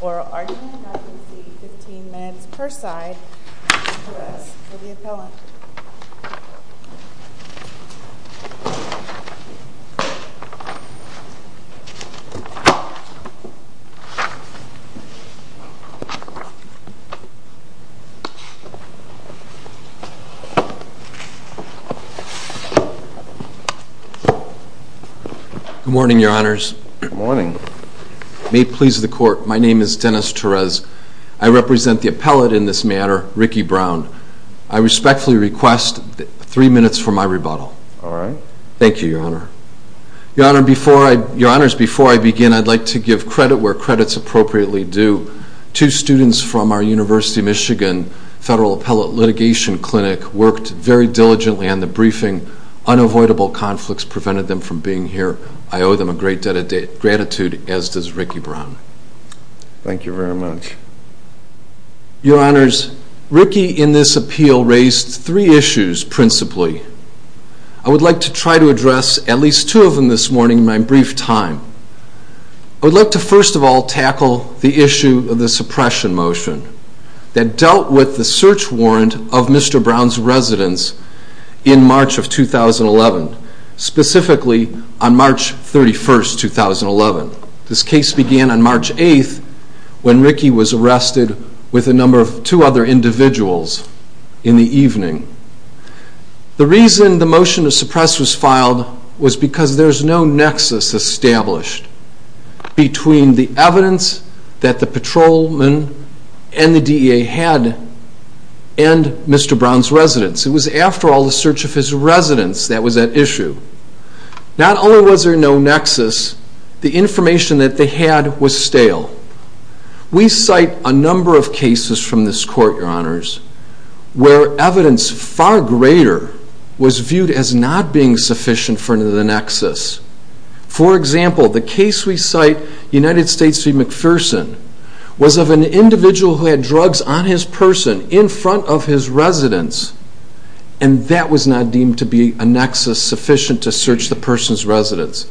oral argument. I can see 15 minutes per side for the appellant. Good morning, your honors. May it please the court, my name is Dennis Torres. I represent the appellate in this matter, Ricky Brown. I respectfully request three minutes for my rebuttal. Thank you, your honor. Your honors, before I begin, I'd like to give credit where the appellate litigation clinic worked very diligently on the briefing. Unavoidable conflicts prevented them from being here. I owe them a great debt of gratitude, as does Ricky Brown. Thank you very much. Your honors, Ricky in this appeal raised three issues principally. I would like to try to address at least two of them this morning in my brief time. I would like to first of all tackle the issue of the suppression motion that dealt with the search warrant of Mr. Brown's residence in March of 2011, specifically on March 31st, 2011. This case began on March 8th when Ricky was arrested with a number of two other individuals in the evening. The reason the motion to suppress was filed was because there's no nexus established between the evidence that the patrolman and the DEA had and Mr. Brown's residence. It was after all the search of his residence that was at issue. Not only was there no nexus, the information that they had was stale. We cite a number of cases from this court, your honors, where evidence far greater was viewed as not being sufficient for the nexus. For example, the case we cite, United States v. McPherson, was of an individual who had drugs on his person in front of his residence and that was not deemed to be a nexus sufficient to search the person's residence.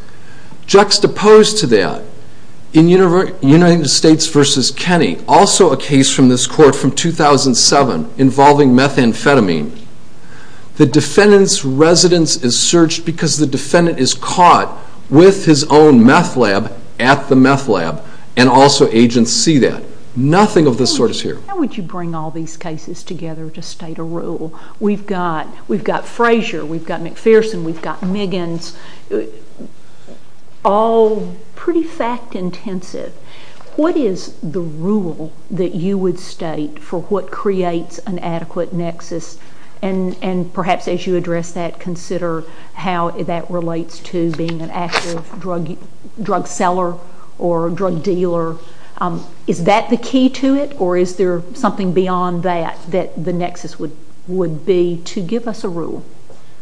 Juxtaposed to that, in United States v. Kenny, also a case from this court from 2007 involving methamphetamine, the defendant's residence is searched because the defendant is caught with his own meth lab at the meth lab and also agents see that. Nothing of this sort is here. How would you bring all these cases together to state a rule? We've got Frazier, we've got McPherson, we've got Miggins, all pretty fact intensive. What is the rule that you would state for what creates an adequate nexus? And perhaps as you address that, consider how that relates to being an active drug seller or drug dealer. Is that the key to it or is there something beyond that that the nexus would be to give us a rule?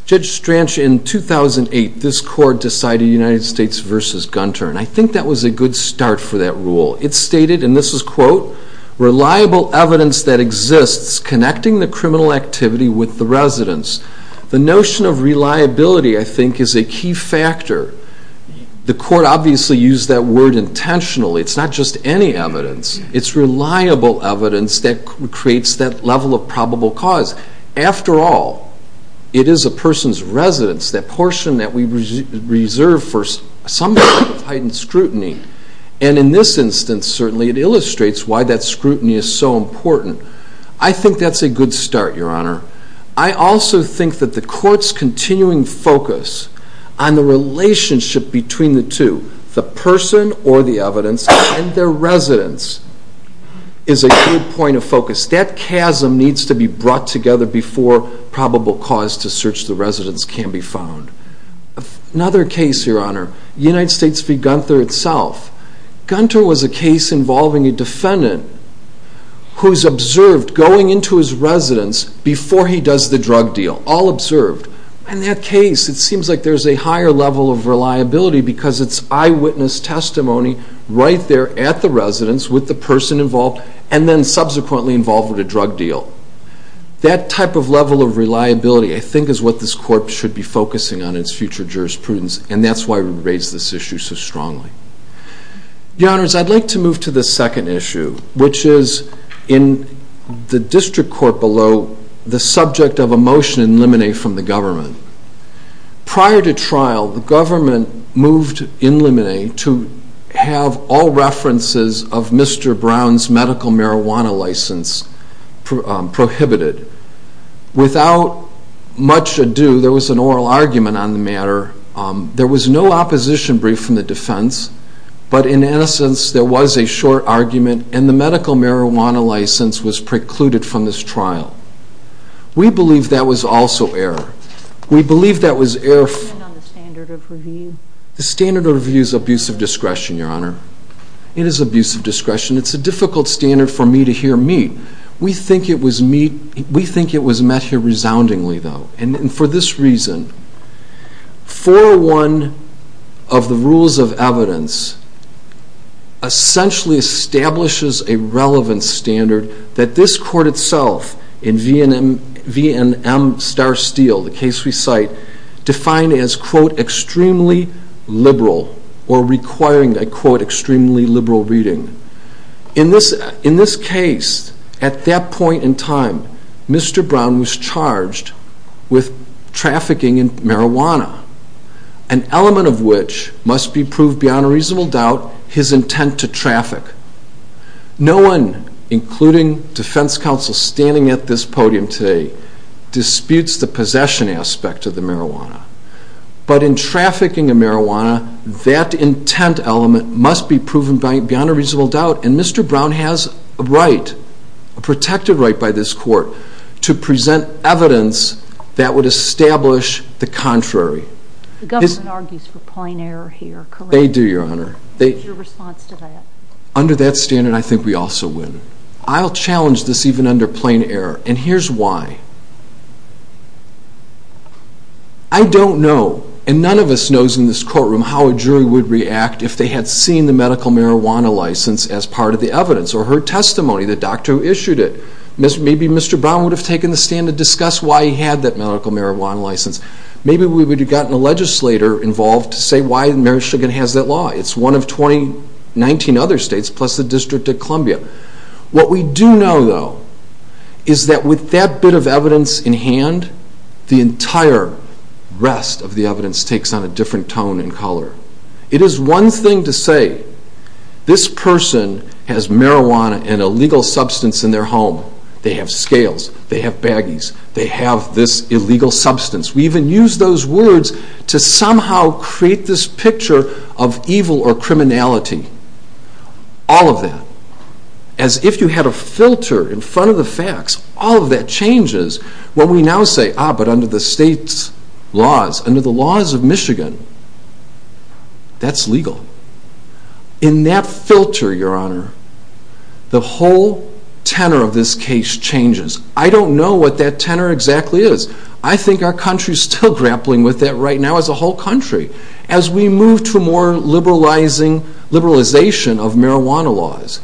Judge Stranch, in 2008, this court decided United States v. Gunter and I think that was a good start for that rule. It stated, and this is quote, reliable evidence that exists connecting the criminal activity with the residence. The notion of reliability, I think, is a key factor. The court obviously used that word intentionally. It's not just any evidence. It's reliable evidence that creates that level of probable cause. After all, it is a person's residence, that portion that we reserve for some type of heightened scrutiny. And in this instance, certainly, it illustrates why that scrutiny is so important. I think that's a good start, Your Honor. I also think that the court's continuing focus on the relationship between the two, the person or the evidence, and their residence, is a good point of focus. That chasm needs to be brought together before probable cause to search the residence can be found. Another case, Your Honor, United States v. Gunter itself. Gunter was a case involving a defendant who's observed going into his residence before he does the drug deal, all observed. In that case, it seems like there's a higher level of reliability because it's eyewitness testimony right there at the residence with the person involved and then subsequently involved with a drug deal. That type of level of reliability, I think, is what this court should be focusing on in its future jurisprudence, and that's why we raise this issue so strongly. Your Honors, I'd like to move to the second issue, which is in the district court below, the subject of a motion in limine from the government. Prior to trial, the government moved in limine to have all references of Mr. Brown's medical marijuana license prohibited. Without much ado, there was an oral argument on the matter. There was no opposition brief from the defense, but in essence, there was a short argument and the medical marijuana license was precluded from this trial. We believe that was also error. We believe that was error. The standard of review is abuse of discretion, Your Honor. It is abuse of discretion. It's a difficult standard for me to hear meet. We think it was met here resoundingly, though, and for this reason, 401 of the rules of evidence essentially establishes a relevant standard that this court itself, in V&M Star Steel, the case we cite, has defined as, quote, extremely liberal or requiring, I quote, extremely liberal reading. In this case, at that point in time, Mr. Brown was charged with trafficking in marijuana, an element of which must be proved beyond a reasonable doubt his intent to traffic. No one, including defense counsel standing at this podium today, disputes the possession aspect of the marijuana, but in trafficking in marijuana, that intent element must be proven beyond a reasonable doubt, and Mr. Brown has a right, a protected right by this court, to present evidence that would establish the contrary. The government argues for plain error here, correct? They do, Your Honor. What is your response to that? Under that standard, I think we also win. I'll challenge this even under plain error, and here's why. I don't know, and none of us knows in this courtroom how a jury would react if they had seen the medical marijuana license as part of the evidence or her testimony, the doctor who issued it. Maybe Mr. Brown would have taken the stand to discuss why he had that medical marijuana license. Maybe we would have gotten a legislator involved to say why Maryshigan has that law. It's one of 19 other states, plus the District of Columbia. What we do know, though, is that with that bit of evidence in hand, the entire rest of the evidence takes on a different tone and color. It is one thing to say, this person has marijuana, an illegal substance, in their home. They have scales. They have a license. They have a license. They have a license. And we create this picture of evil or criminality, all of that. As if you had a filter in front of the facts, all of that changes when we now say, ah, but under the state's laws, under the laws of Michigan, that's legal. In that filter, Your Honor, the whole tenor of this case changes. I don't know what that tenor exactly is. I think our country is still grappling with that right now, as a whole country, as we move to a more liberalizing, liberalization of marijuana laws.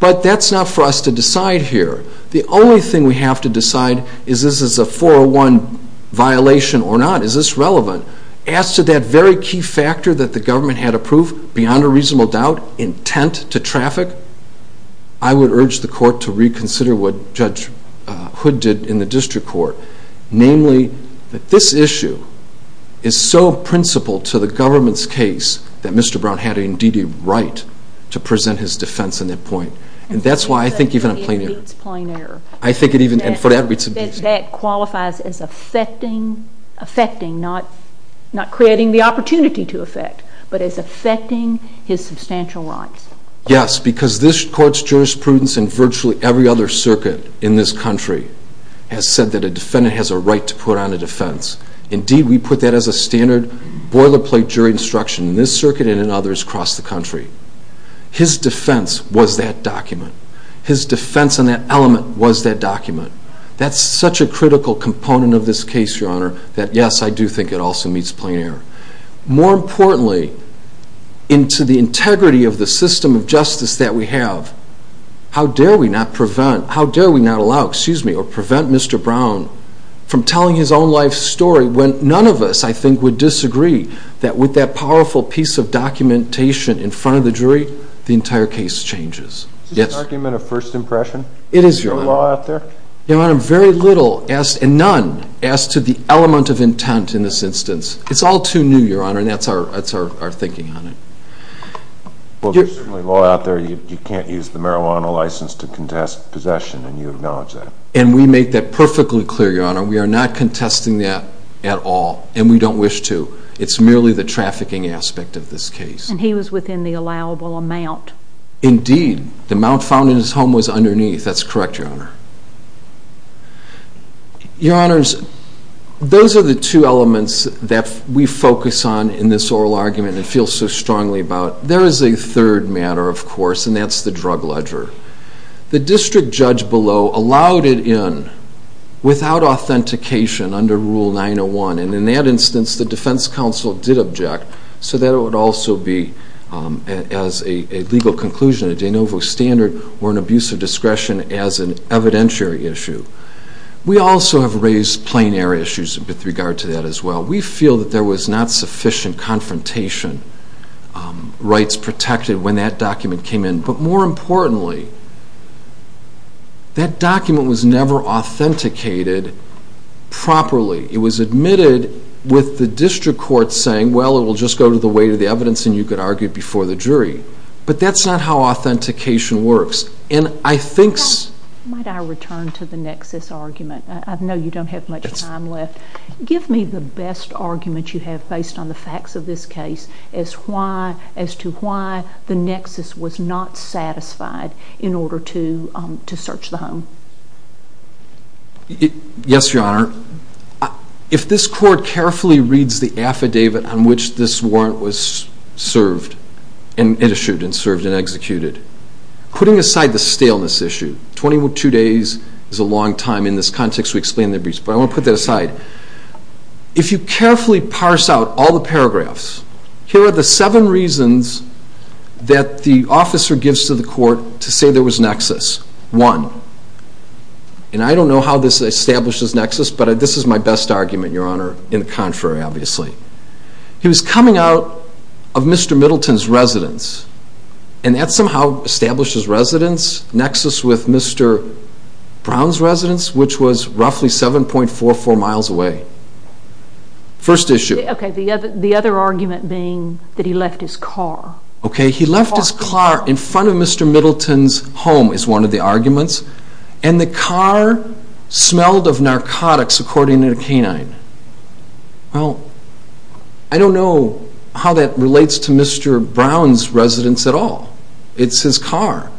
But that's not for us to decide here. The only thing we have to decide is this is a 401 violation or not. Is this relevant? As to that very key factor that the government had approved, beyond a reasonable doubt, intent to traffic, I would urge the court to reconsider what Judge Hood did in the district court. Namely, that this issue is so principled to the government's case that Mr. Brown had indeed a right to present his defense in that point. And that's why I think even a plain error. It's a plain error. I think it even, for that reason. That qualifies as affecting, affecting, not creating the opportunity to affect, but as affecting his substantial rights. Yes, because this court's jurisprudence and virtually every other circuit in this country has said that a defendant has a right to put on a defense. Indeed, we put that as a standard boilerplate jury instruction in this circuit and in others across the country. His defense was that document. His defense on that element was that document. That's such a critical component of this case, Your Honor, that yes, I do think it also meets plain error. More importantly, into the integrity of the system of justice that we have, how dare we not prevent, how dare we not allow, excuse me, or prevent Mr. Brown from telling his own life story when none of us, I think, would disagree that with that powerful piece of documentation in front of the jury, the entire case changes. Is this an argument of first impression? It is, Your Honor. Is there law out there? Your Honor, very little, and none, as to the element of intent in this instance. It's all too new, Your Honor, and that's our thinking on it. Well, there's certainly law out there. You can't use the marijuana license to contest possession, and you acknowledge that. And we make that perfectly clear, Your Honor. We are not contesting that at all, and we don't wish to. It's merely the trafficking aspect of this case. And he was within the allowable amount. Indeed. The amount found in his home was underneath. That's correct, Your Honor. Your Honors, those are the two elements that we focus on in this oral argument and feel so strongly about. There is a third matter, of course, and that's the drug ledger. The district judge below allowed it in without authentication under Rule 901, and in that instance the defense counsel did object so that it would also be as a legal conclusion a de novo standard or an abuse of discretion as an evidentiary issue. We also have raised plain air issues with regard to that as well. We feel that there was not sufficient confrontation rights protected when that document came in. But more importantly, that document was never authenticated properly. It was admitted with the district court saying, well, it will just go to the weight of the evidence and you can argue it before the jury. But that's not how authentication works. And I think... Might I return to the nexus argument? I know you don't have much time left. Give me the best argument you have based on the facts of this case as to why the nexus was not satisfied in order to search the home. Yes, Your Honor. If this court carefully reads the affidavit on which this warrant was served and issued and served and executed, putting aside the staleness issue, 22 days is a long time in this context to explain the abuse, but I want to put that aside. If you carefully parse out all the paragraphs, here are the seven reasons that the officer gives to the court to say there was nexus. One, and I don't know how this establishes nexus, but this is my best argument, Your Honor, in the contrary, obviously. He was coming out of Mr. Middleton's residence and that somehow establishes residence, nexus with Mr. Brown's residence, which was roughly 7.44 miles away. First issue. Okay, the other argument being that he left his car. Okay, he left his car in front of Mr. Middleton's home is one of the arguments. And the car smelled of narcotics, according to the canine. Well, I don't know how that relates to Mr. Brown's residence at all. It's his car.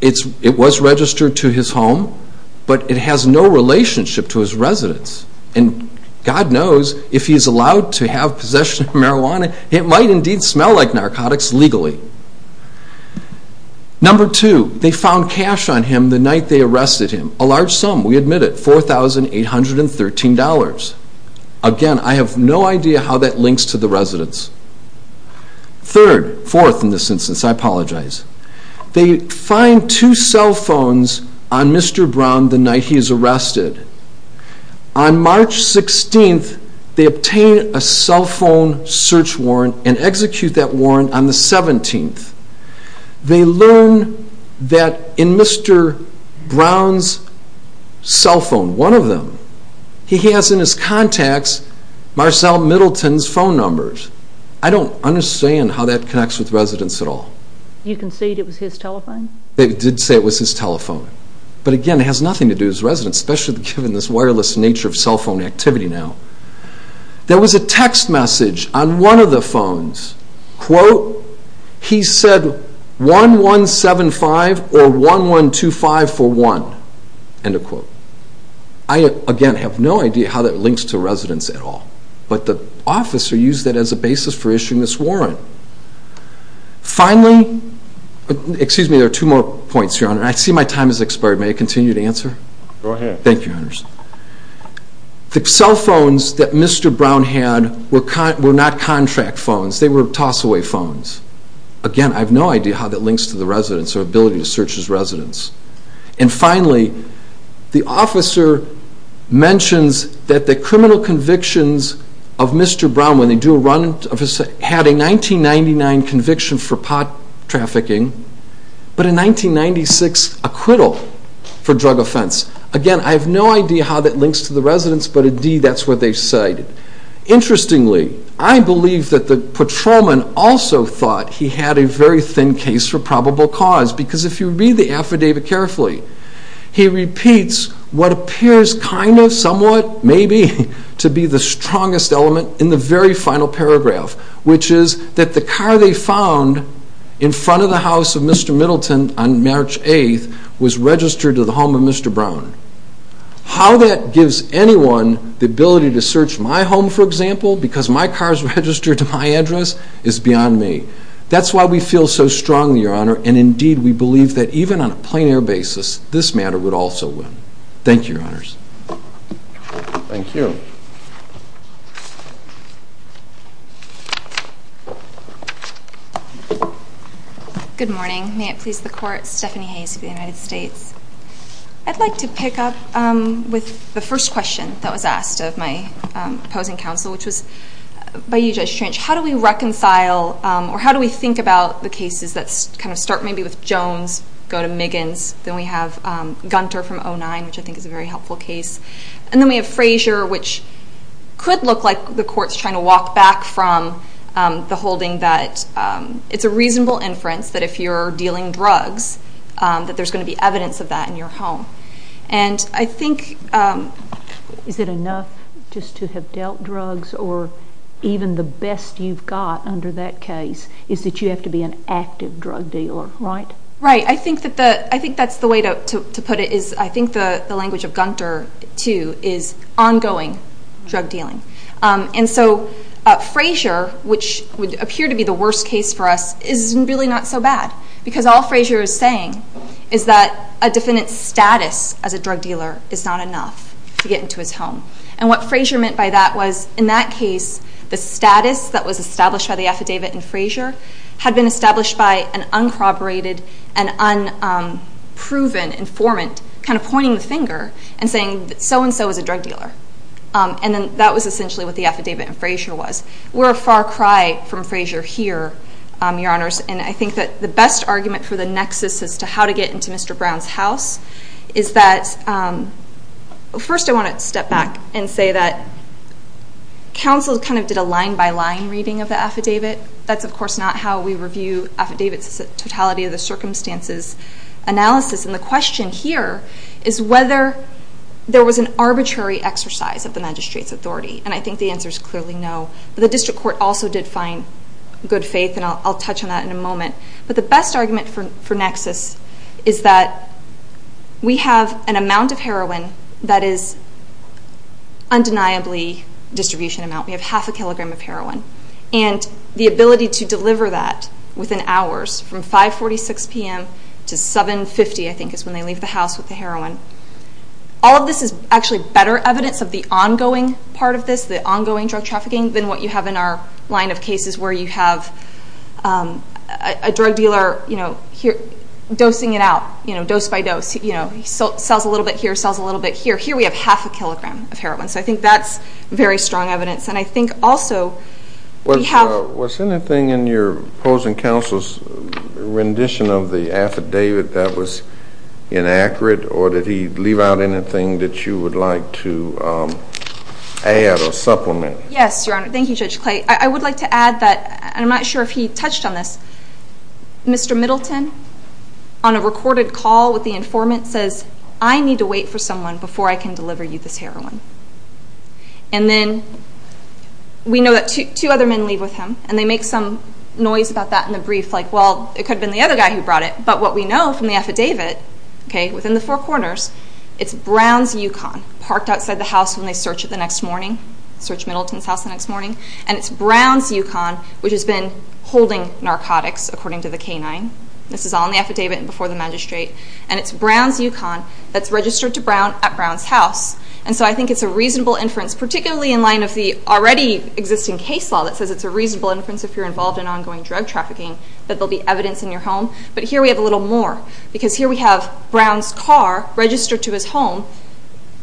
It was registered to his home, but it has no relationship to his residence. And God knows if he's allowed to have possession of marijuana, it might indeed smell like narcotics legally. Number two, they found cash on him the night they arrested him. A large sum, we admit it, $4,813. Again, I have no idea how that links to the residence. Third, fourth in this instance, I apologize. They find two cell phones on Mr. Brown the night he is arrested. On March 16th, they obtain a cell phone search warrant and execute that warrant on the 17th. They learn that in Mr. Brown's cell phone, one of them, he has in his contacts Marcel Middleton's phone numbers. I don't understand how that connects with residence at all. You concede it was his telephone? They did say it was his telephone. But again, it has nothing to do with his residence, especially given this wireless nature of cell phone activity now. There was a text message on one of the phones, quote, he said 1175 or 112541, end of quote. I again have no idea how that links to residence at all. But the officer used that as a basis for issuing this warrant. Finally, excuse me, there are two more points, Your Honor, and I see my time has expired. May I continue to answer? Go ahead. Thank you, Your Honor. The cell phones that Mr. Brown had were not contract phones. They were toss-away phones. Again, I have no idea how that links to the residence or ability to search his residence. And finally, the officer mentions that the criminal convictions of Mr. Brown, when they do a run of his, had a 1999 conviction for pot trafficking, but a 1996 acquittal for drug offense. Again, I have no idea how that links to the residence, but indeed that's what they cite. Interestingly, I believe that the patrolman also thought he had a very thin case for probable cause, because if you read the affidavit carefully, he repeats what appears kind of, somewhat, maybe, to be the strongest element in the very final paragraph, which is that the car they found in front of the house of Mr. Middleton on March 8th is registered to the home of Mr. Brown. How that gives anyone the ability to search my home, for example, because my car is registered to my address, is beyond me. That's why we feel so strongly, Your Honor, and indeed we believe that even on a plein air basis, this matter would also win. Thank you, Your Honors. Thank you. Good morning. May it please the Court, Stephanie Hayes of the United States. I'd like to pick up with the first question that was asked of my opposing counsel, which was by you, Judge Trench, how do we reconcile, or how do we think about the cases that kind of start maybe with Jones, go to Miggins, then we have Gunter from 09, which I think is a very helpful case, and then we have Frazier, which could look like the Court's trying to walk back from the holding that it's a reasonable inference that if you're dealing drugs that there's going to be evidence of that in your home. And I think... Is it enough just to have dealt drugs, or even the best you've got under that case is that you have to be an active drug dealer, right? Right. I think that's the way to put it. I think the language of Gunter, too, is ongoing drug dealing. And so Frazier, which would appear to be the worst case for us, is really not so bad, because all Frazier is saying is that a defendant's status as a drug dealer is not enough to get into his home. And what Frazier meant by that was, in that case, the defendant is an unproven informant, kind of pointing the finger and saying that so and so is a drug dealer. And then that was essentially what the affidavit in Frazier was. We're a far cry from Frazier here, Your Honors, and I think that the best argument for the nexus as to how to get into Mr. Brown's house is that... First I want to step back and say that counsel kind of did a line by line reading of the review affidavits, the totality of the circumstances analysis. And the question here is whether there was an arbitrary exercise of the magistrate's authority. And I think the answer is clearly no. But the district court also did find good faith, and I'll touch on that in a moment. But the best argument for nexus is that we have an amount of heroin that is undeniably distribution amount. We have half a kilogram of heroin. And the ability to deliver that within hours from 5.46 p.m. to 7.50 p.m. is when they leave the house with the heroin. All of this is actually better evidence of the ongoing part of this, the ongoing drug trafficking, than what you have in our line of cases where you have a drug dealer dosing it out, dose by dose. He sells a little bit here, sells a little bit here. Here we have half a kilogram of heroin. So I think that's very strong evidence. And I think also we have... Was anything in your opposing counsel's rendition of the affidavit that was inaccurate, or did he leave out anything that you would like to add or supplement? Yes, Your Honor. Thank you, Judge Clay. I would like to add that, and I'm not sure if he touched on this, Mr. Middleton, on a recorded call with the informant, says, I need to wait for someone before I can deliver you this heroin. And then we know that two other men leave with him, and they make some noise about that in the brief, like, well, it could have been the other guy who brought it. But what we know from the affidavit, okay, within the four corners, it's Brown's Yukon, parked outside the house when they search it the next morning, search Middleton's house the next morning. And it's Brown's Yukon, which has been holding narcotics, according to the canine. This is all in the affidavit and before the magistrate. And it's Brown's Yukon that's registered to Brown at Brown's house. And so I think it's a reasonable inference, particularly in line of the already existing case law that says it's a reasonable inference if you're involved in ongoing drug trafficking, that there will be evidence in your home. But here we have a little more, because here we have Brown's car registered to his home,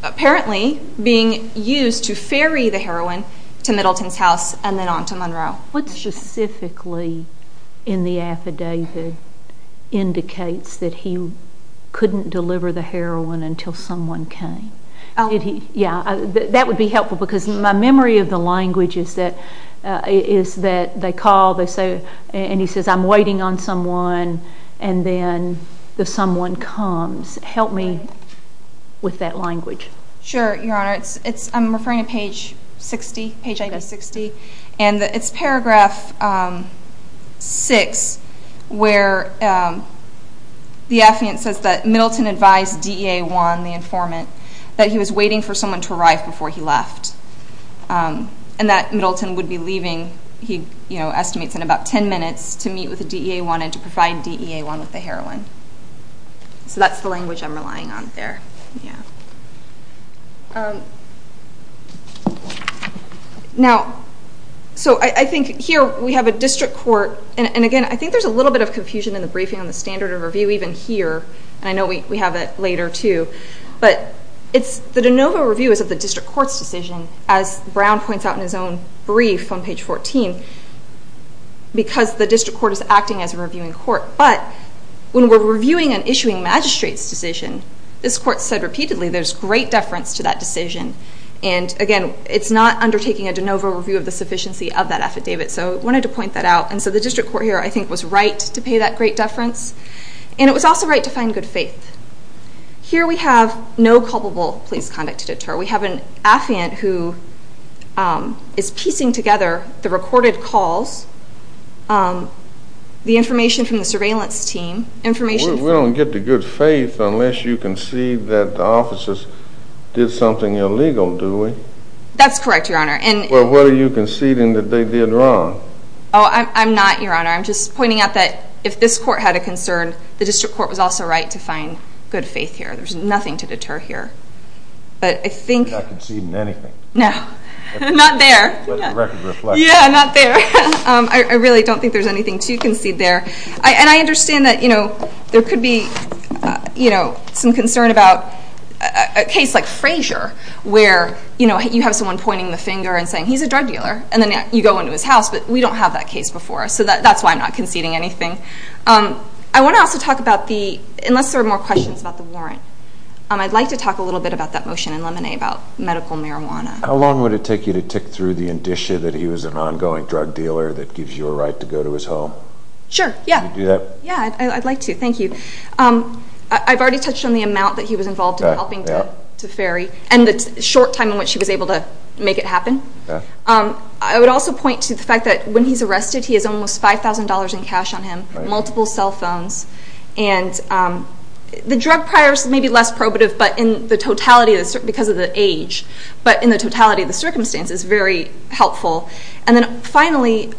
apparently being used to ferry the heroin to Middleton's house and then on to Monroe. What specifically in the affidavit indicates that he couldn't deliver the heroin until someone came? Did he, yeah, that would be helpful because my memory of the language is that, is that they call, they say, and he says, I'm waiting on someone and then the someone comes. Help me with that language. Sure, your honor. I'm referring to page 60, page 60, and it's paragraph 6 where the affiant says that Middleton advised DEA 1, the informant, that he was waiting for someone to arrive before he left. And that Middleton would be leaving, he estimates, in about 10 minutes to meet with DEA 1 and to provide DEA 1 with the heroin. So that's the language I'm relying on there. Now, so I think here we have a district court, and again, I think there's a little bit of confusion in the briefing on the standard of review even here, and I know we have it later too, but it's, the de novo review is of the district court's decision, as Brown points out in his own brief on page 14, because the district court is acting as a reviewing court, but when we're reviewing and issuing magistrate's decision, this court said repeatedly there's great deference to that decision, and again, it's not undertaking a de novo review of the sufficiency of that affidavit, so I wanted to point that out, and so the district court here, I think, was right to pay that great deference, and it was also right to find good faith. Here we have no culpable police conduct to deter. We have an affiant who is piecing together the recorded calls, the information from the surveillance team, information... Well, we don't get the good faith unless you concede that the officers did something illegal, do we? That's correct, Your Honor, and... Well, what are you conceding that they did wrong? Oh, I'm not, Your Honor. I'm just pointing out that if this court had a concern, the district court was also right to find good faith here. There's nothing to deter here, but I think... You're not conceding anything. No, not there. Let the record reflect. Yeah, not there. I really don't think there's anything to concede there, and I understand that there could be some concern about a case like Frazier, where you have someone pointing the finger and saying, he's a drug dealer, and then you go into his house, but we don't have that case before us, so that's why I'm not conceding anything. I want to also talk about the... Unless there are more questions about the warrant, I'd like to talk a little bit about that motion in Lemonade about medical marijuana. How long would it take you to tick through the indicia that he was an ongoing drug dealer that gives you a right to go to his home? Sure, yeah. Would you do that? Yeah, I'd like to. Thank you. I've already touched on the amount that he was involved in helping to ferry, and the short time in which he was able to make it happen. I would also point to the fact that when he's arrested, he has almost $5,000 in cash on him, multiple cell phones, and the drug prior is maybe less probative, but in the totality, because of the age, but in the totality of the circumstances, very helpful. And then finally, the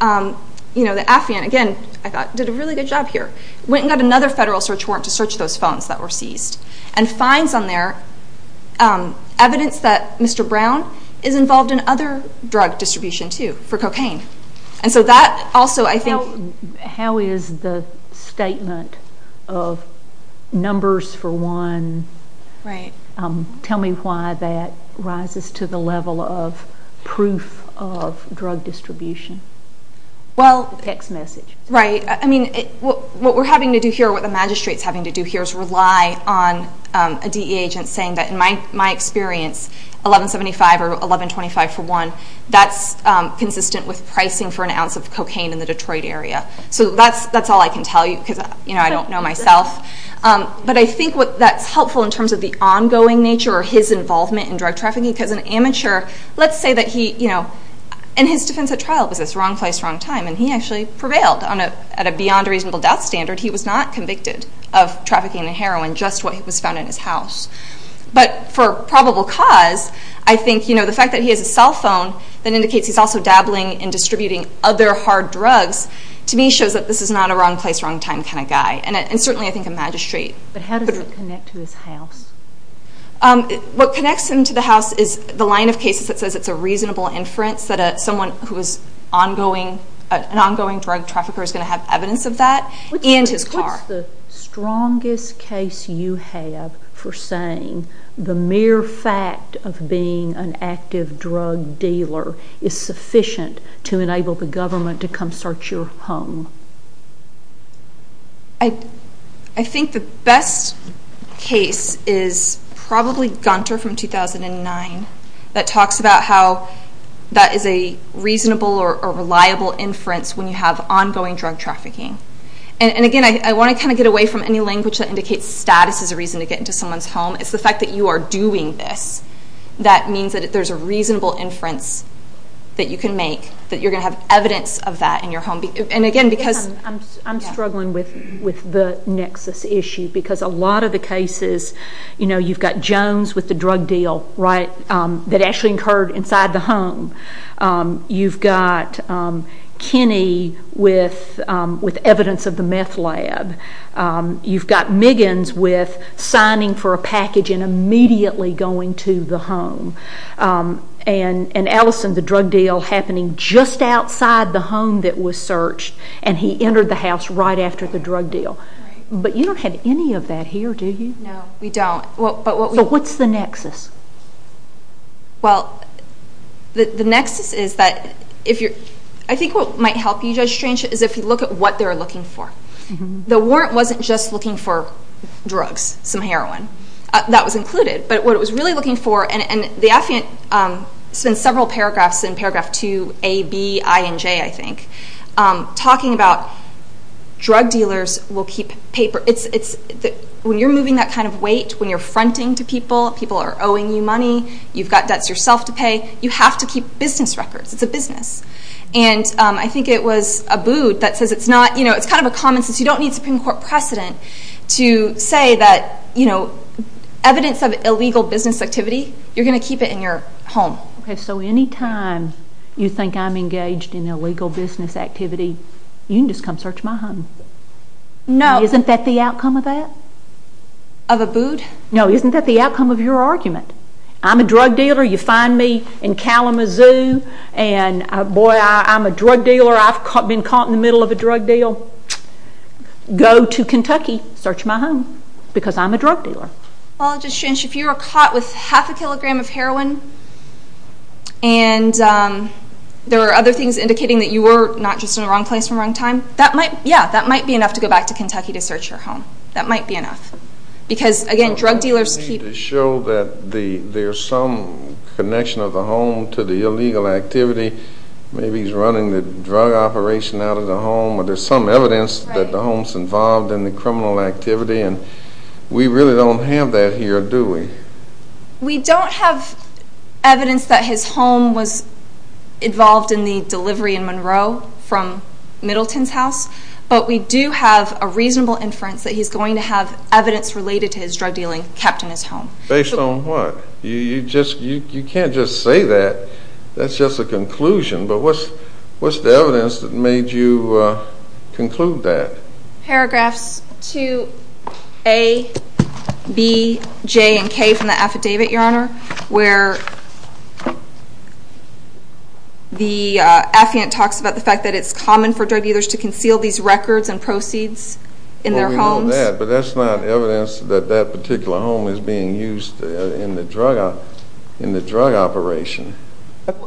Affian, again, I thought, did a really good job here, went and got another federal search warrant to search those phones that were seized, and finds on there evidence that Mr. Brown is involved in other drug distribution, too, for cocaine. And so that also, I think... How is the statement of numbers for one, tell me why that rises to the level of proof of drug distribution? The text message. Right. I mean, what we're having to do here, what the magistrate's having to do here is rely on a DEA agent saying that, in my experience, $11.75 or $11.25 for one, that's consistent with pricing for an ounce of cocaine in the Detroit area. So that's all I can tell you, because I don't know myself. But I think that's helpful in terms of the ongoing nature or his involvement in drug trafficking, because an amateur, let's say that he... And his defense at trial was this, wrong place, wrong time, and he actually prevailed at a beyond reasonable death standard. He was not convicted of trafficking in heroin, just what was found in his house. But for probable cause, I think the fact that he has a cell phone that indicates he's also involved in trafficking and distributing other hard drugs, to me, shows that this is not a wrong place, wrong time kind of guy. And certainly, I think a magistrate... But how does it connect to his house? What connects him to the house is the line of cases that says it's a reasonable inference that someone who is an ongoing drug trafficker is going to have evidence of that, and his car. What's the strongest case you have for saying the mere fact of being an active drug dealer is sufficient to enable the government to come search your home? I think the best case is probably Gunter from 2009, that talks about how that is a reasonable or reliable inference when you have ongoing drug trafficking. And again, I want to get away from any language that indicates status is a reason to get into someone's home. It's the fact that you are doing this, that means that there's a reasonable inference that you can make, that you're going to have evidence of that in your home. And again, because... I'm struggling with the nexus issue, because a lot of the cases, you've got Jones with the drug deal, right, that actually occurred inside the home. You've got Kinney with evidence of the meth lab. You've got Miggins with signing for a package and immediately going to the home. And Allison, the drug deal happening just outside the home that was searched, and he entered the house right after the drug deal. But you don't have any of that here, do you? No, we don't. So what's the nexus? Well, the nexus is that if you're... I think what might help you, Judge Strange, is if you look at what they're looking for. The warrant wasn't just looking for drugs, some heroin. That was included, but what it was really looking for, and the affiant spent several paragraphs in paragraph two, A, B, I, and J, I think, talking about drug dealers will keep paper. When you're moving that kind of weight, when you're fronting to people, people are owing you money, you've got debts yourself to pay, you have to keep business records. It's a business. And I think it was Abood that says it's not... It's kind of a common sense. You don't need Supreme Court precedent to say that evidence of illegal business activity, you're going to keep it in your home. Okay, so any time you think I'm engaged in illegal business activity, you can just come search my home. No. Isn't that the outcome of that? Of Abood? No, isn't that the outcome of your argument? I'm a drug dealer. You find me in Kalamazoo and, boy, I'm a drug dealer. I've been caught in the middle of a drug deal. Go to Kentucky, search my home, because I'm a drug dealer. Well, I'll just change. If you were caught with half a kilogram of heroin and there are other things indicating that you were not just in the wrong place at the wrong time, that might, yeah, that might be enough to go back to Kentucky to search your home. That might be enough. Because, again, drug dealers keep... To show that there's some connection of the home to the illegal activity, maybe he's running the drug operation out of the home, or there's some evidence that the home's involved in the criminal activity, and we really don't have that here, do we? We don't have evidence that his home was involved in the delivery in Monroe from Middleton's house, but we do have a reasonable inference that he's going to have evidence related to his drug dealing kept in his home. Based on what? You can't just say that. That's just a conclusion. But what's the evidence that made you conclude that? Paragraphs 2A, B, J, and K from the affidavit, Your Honor, where the affiant talks about the fact that it's common for drug dealers to conceal these records and proceeds in their homes. Based on that, but that's not evidence that that particular home is being used in the drug operation.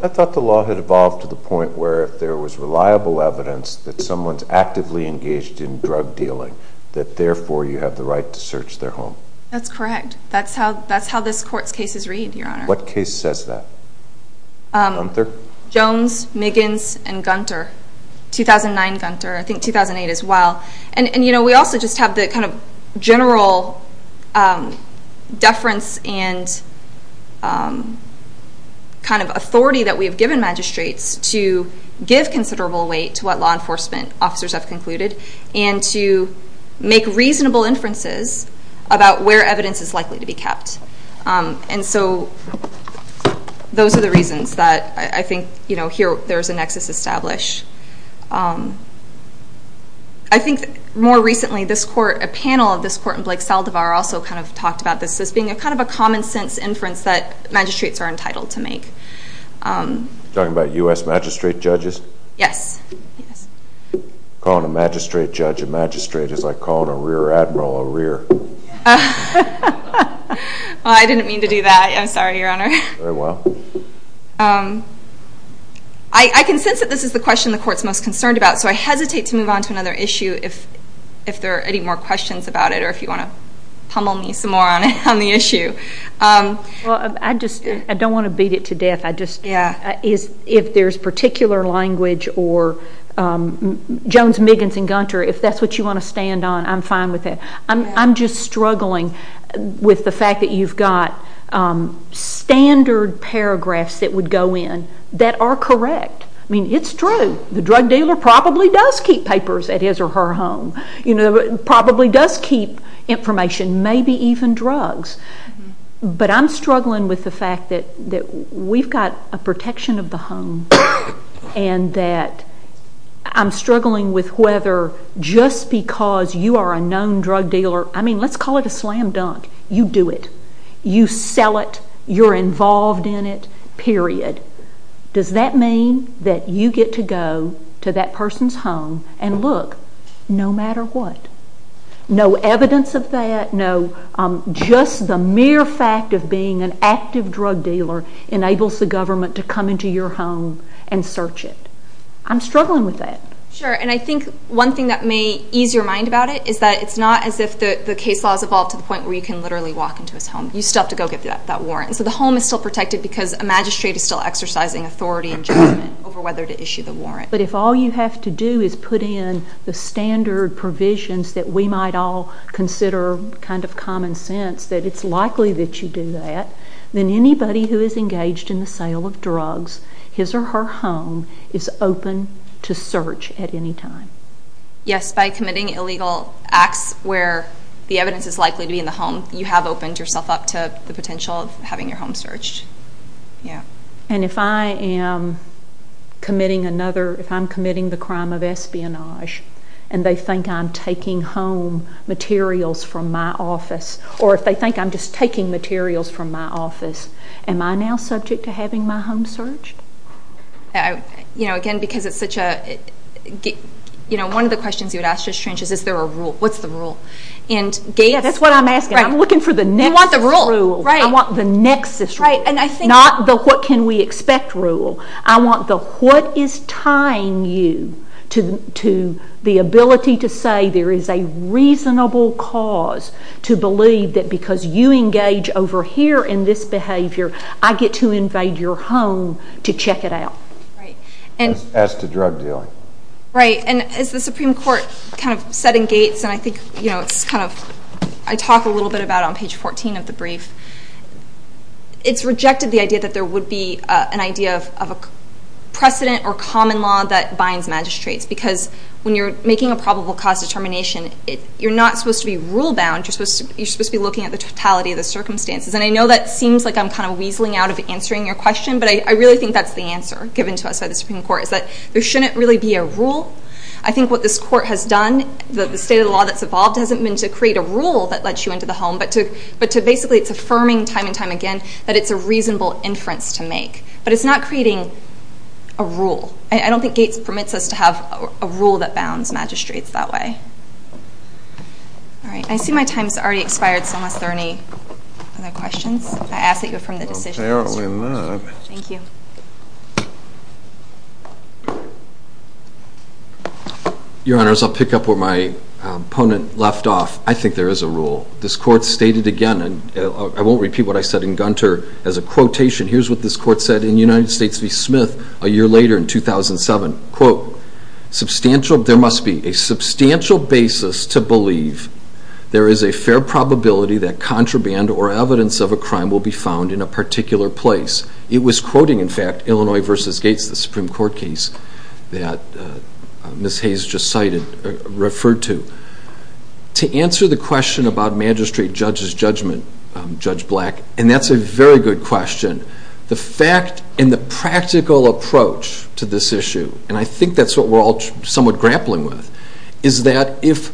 I thought the law had evolved to the point where if there was reliable evidence that someone's actively engaged in drug dealing, that, therefore, you have the right to search their home. That's correct. That's how this Court's cases read, Your Honor. What case says that? Gunther? Jones, Miggins, and Gunther. 2009 Gunther. I think 2008 as well. And, you know, we also just have the kind of general deference and kind of authority that we have given magistrates to give considerable weight to what law enforcement officers have concluded and to make reasonable inferences about where evidence is likely to be kept. And so those are the reasons that I think, you know, here there's a nexus established. I think more recently this Court, a panel of this Court in Blake-Saldivar also kind of talked about this as being a kind of a common sense inference that magistrates are entitled to make. You're talking about U.S. magistrate judges? Yes. Calling a magistrate judge a magistrate is like calling a rear admiral a rear. Well, I didn't mean to do that. I'm sorry, Your Honor. Very well. I can sense that this is the question the Court's most concerned about, so I hesitate to move on to another issue if there are any more questions about it or if you want to pummel me some more on the issue. I don't want to beat it to death. If there's particular language or Jones, Miggins, and Gunther, if that's what you want to stand on, I'm fine with that. I'm just struggling with the fact that you've got standard paragraphs that would go in that are correct. I mean, it's true. The drug dealer probably does keep papers at his or her home, probably does keep information, maybe even drugs. But I'm struggling with the fact that we've got a protection of the home and that I'm struggling with whether just because you are a known drug dealer, I mean, let's call it a slam dunk. You do it. You sell it. You're involved in it, period. Does that mean that you get to go to that person's home and look no matter what? No evidence of that? No. Just the mere fact of being an active drug dealer enables the government to come into your home and search it. I'm struggling with that. Sure. And I think one thing that may ease your mind about it is that it's not as if the case law has evolved to the point where you can literally walk into his home. You still have to go get that warrant. So the home is still protected because a magistrate is still exercising authority and judgment over whether to issue the warrant. But if all you have to do is put in the standard provisions that we might all consider kind of common sense, that it's likely that you do that, then anybody who is engaged in the sale of drugs, his or her home, is open to search at any time. Yes, by committing illegal acts where the evidence is likely to be in the home, you have opened yourself up to the potential of having your home searched. And if I am committing another, if I'm committing the crime of espionage and they think I'm taking home materials from my office, or if they think I'm just taking materials from my office, am I now subject to having my home searched? You know, again, because it's such a, you know, one of the questions you would ask is, is there a rule? What's the rule? Yeah, that's what I'm asking. I'm looking for the nexus rule. You want the rule, right. I want the nexus rule. Right, and I think Not the what can we expect rule. I want the what is tying you to the ability to say there is a reasonable cause to believe that because you engage over here in this behavior, I get to invite your home to check it out. Right, and As to drug dealing. Right, and as the Supreme Court kind of set in gates, and I think, you know, it's kind of, I talk a little bit about it on page 14 of the brief. It's rejected the idea that there would be an idea of a precedent or common law that binds magistrates because when you're making a probable cause determination, you're not supposed to be rule bound, you're supposed to be looking at the totality of the circumstances. And I know that seems like I'm kind of weaseling out of answering your question, but I really think that's the answer given to us by the Supreme Court is that there shouldn't really be a rule. I think what this court has done, the state of the law that's evolved hasn't been to create a rule that lets you into the home, but to basically it's affirming time and time again that it's a reasonable inference to make. But it's not creating a rule. I don't think gates permits us to have a rule that bounds magistrates that way. All right. I see my time has already expired, so unless there are any other questions, I ask that you affirm the decision. Apparently not. Thank you. Your Honors, I'll pick up where my opponent left off. I think there is a rule. This court stated again, and I won't repeat what I said in Gunter as a quotation. Here's what this court said in United States v. Smith a year later in 2007. There must be a substantial basis to believe there is a fair probability that contraband or evidence of a crime will be found in a particular place. It was quoting, in fact, Illinois v. Gates, the Supreme Court case that Ms. Hayes just cited, referred to. To answer the question about magistrate judge's judgment, Judge Black, and that's a very good question. The fact and the practical approach to this issue, and I think that's what we're all somewhat grappling with, is that if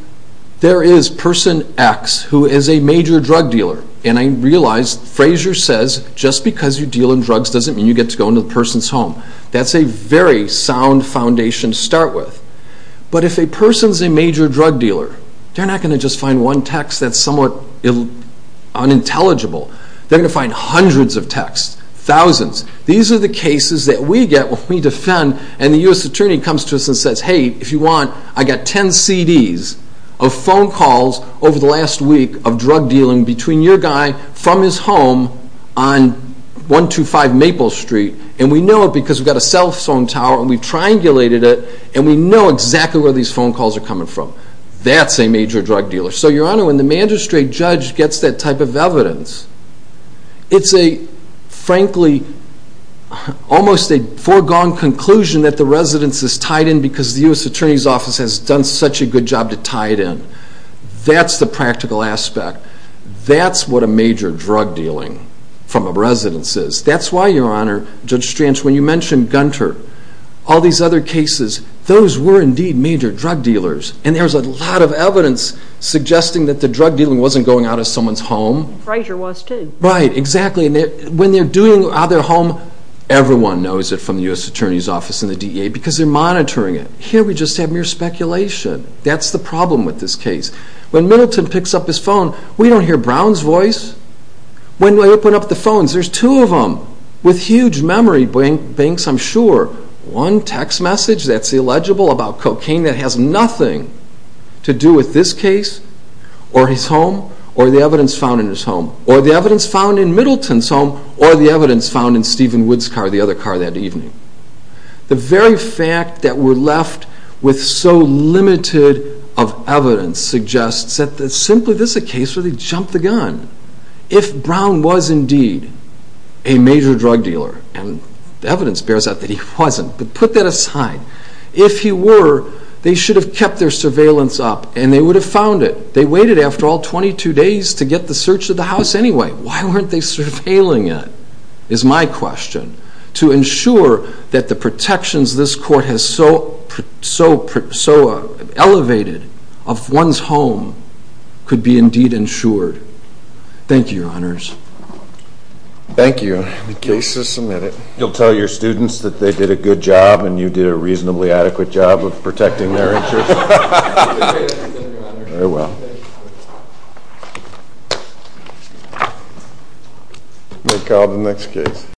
there is person X who is a major drug dealer, and I realize Frazier says just because you deal in drugs doesn't mean you get to go into the person's home. That's a very sound foundation to start with. But if a person's a major drug dealer, they're not going to just find one text that's somewhat unintelligible. They're going to find hundreds of texts, thousands. These are the cases that we get when we defend and the U.S. Attorney comes to us and says, hey, if you want, I got 10 CDs of phone calls over the last week of drug dealing between your guy from his home on 125 Maple Street, and we know it because we've got a cell phone tower and we've triangulated it and we know exactly where these phone calls are coming from. That's a major drug dealer. So, Your Honor, when the magistrate judge gets that type of evidence, it's a, frankly, almost a foregone conclusion that the residence is tied in because the U.S. Attorney's Office has done such a good job to tie it in. That's the practical aspect. That's what a major drug dealing from a residence is. That's why, Your Honor, Judge Stranch, when you mentioned Gunter, all these other cases, those were indeed major drug dealers. And there's a lot of evidence suggesting that the drug dealing wasn't going out of someone's home. Frazier was too. Right, exactly. When they're doing it out of their home, everyone knows it from the U.S. Attorney's Office and the DEA because they're monitoring it. Here we just have mere speculation. That's the problem with this case. When Middleton picks up his phone, we don't hear Brown's voice. When they open up the phones, there's two of them with huge memory banks, I'm sure. Or one text message that's illegible about cocaine that has nothing to do with this case or his home or the evidence found in his home or the evidence found in Middleton's home or the evidence found in Stephen Wood's car, the other car that evening. The very fact that we're left with so limited of evidence suggests that simply this is a case where they jumped the gun. If Brown was indeed a major drug dealer, and the evidence bears out that he wasn't, but put that aside, if he were, they should have kept their surveillance up and they would have found it. They waited after all 22 days to get the search of the house anyway. Why weren't they surveilling it is my question. To ensure that the protections this court has so elevated of one's home could be indeed ensured. Thank you, Your Honors. Thank you. The case is submitted. You'll tell your students that they did a good job and you did a reasonably adequate job of protecting their insurance? Very well.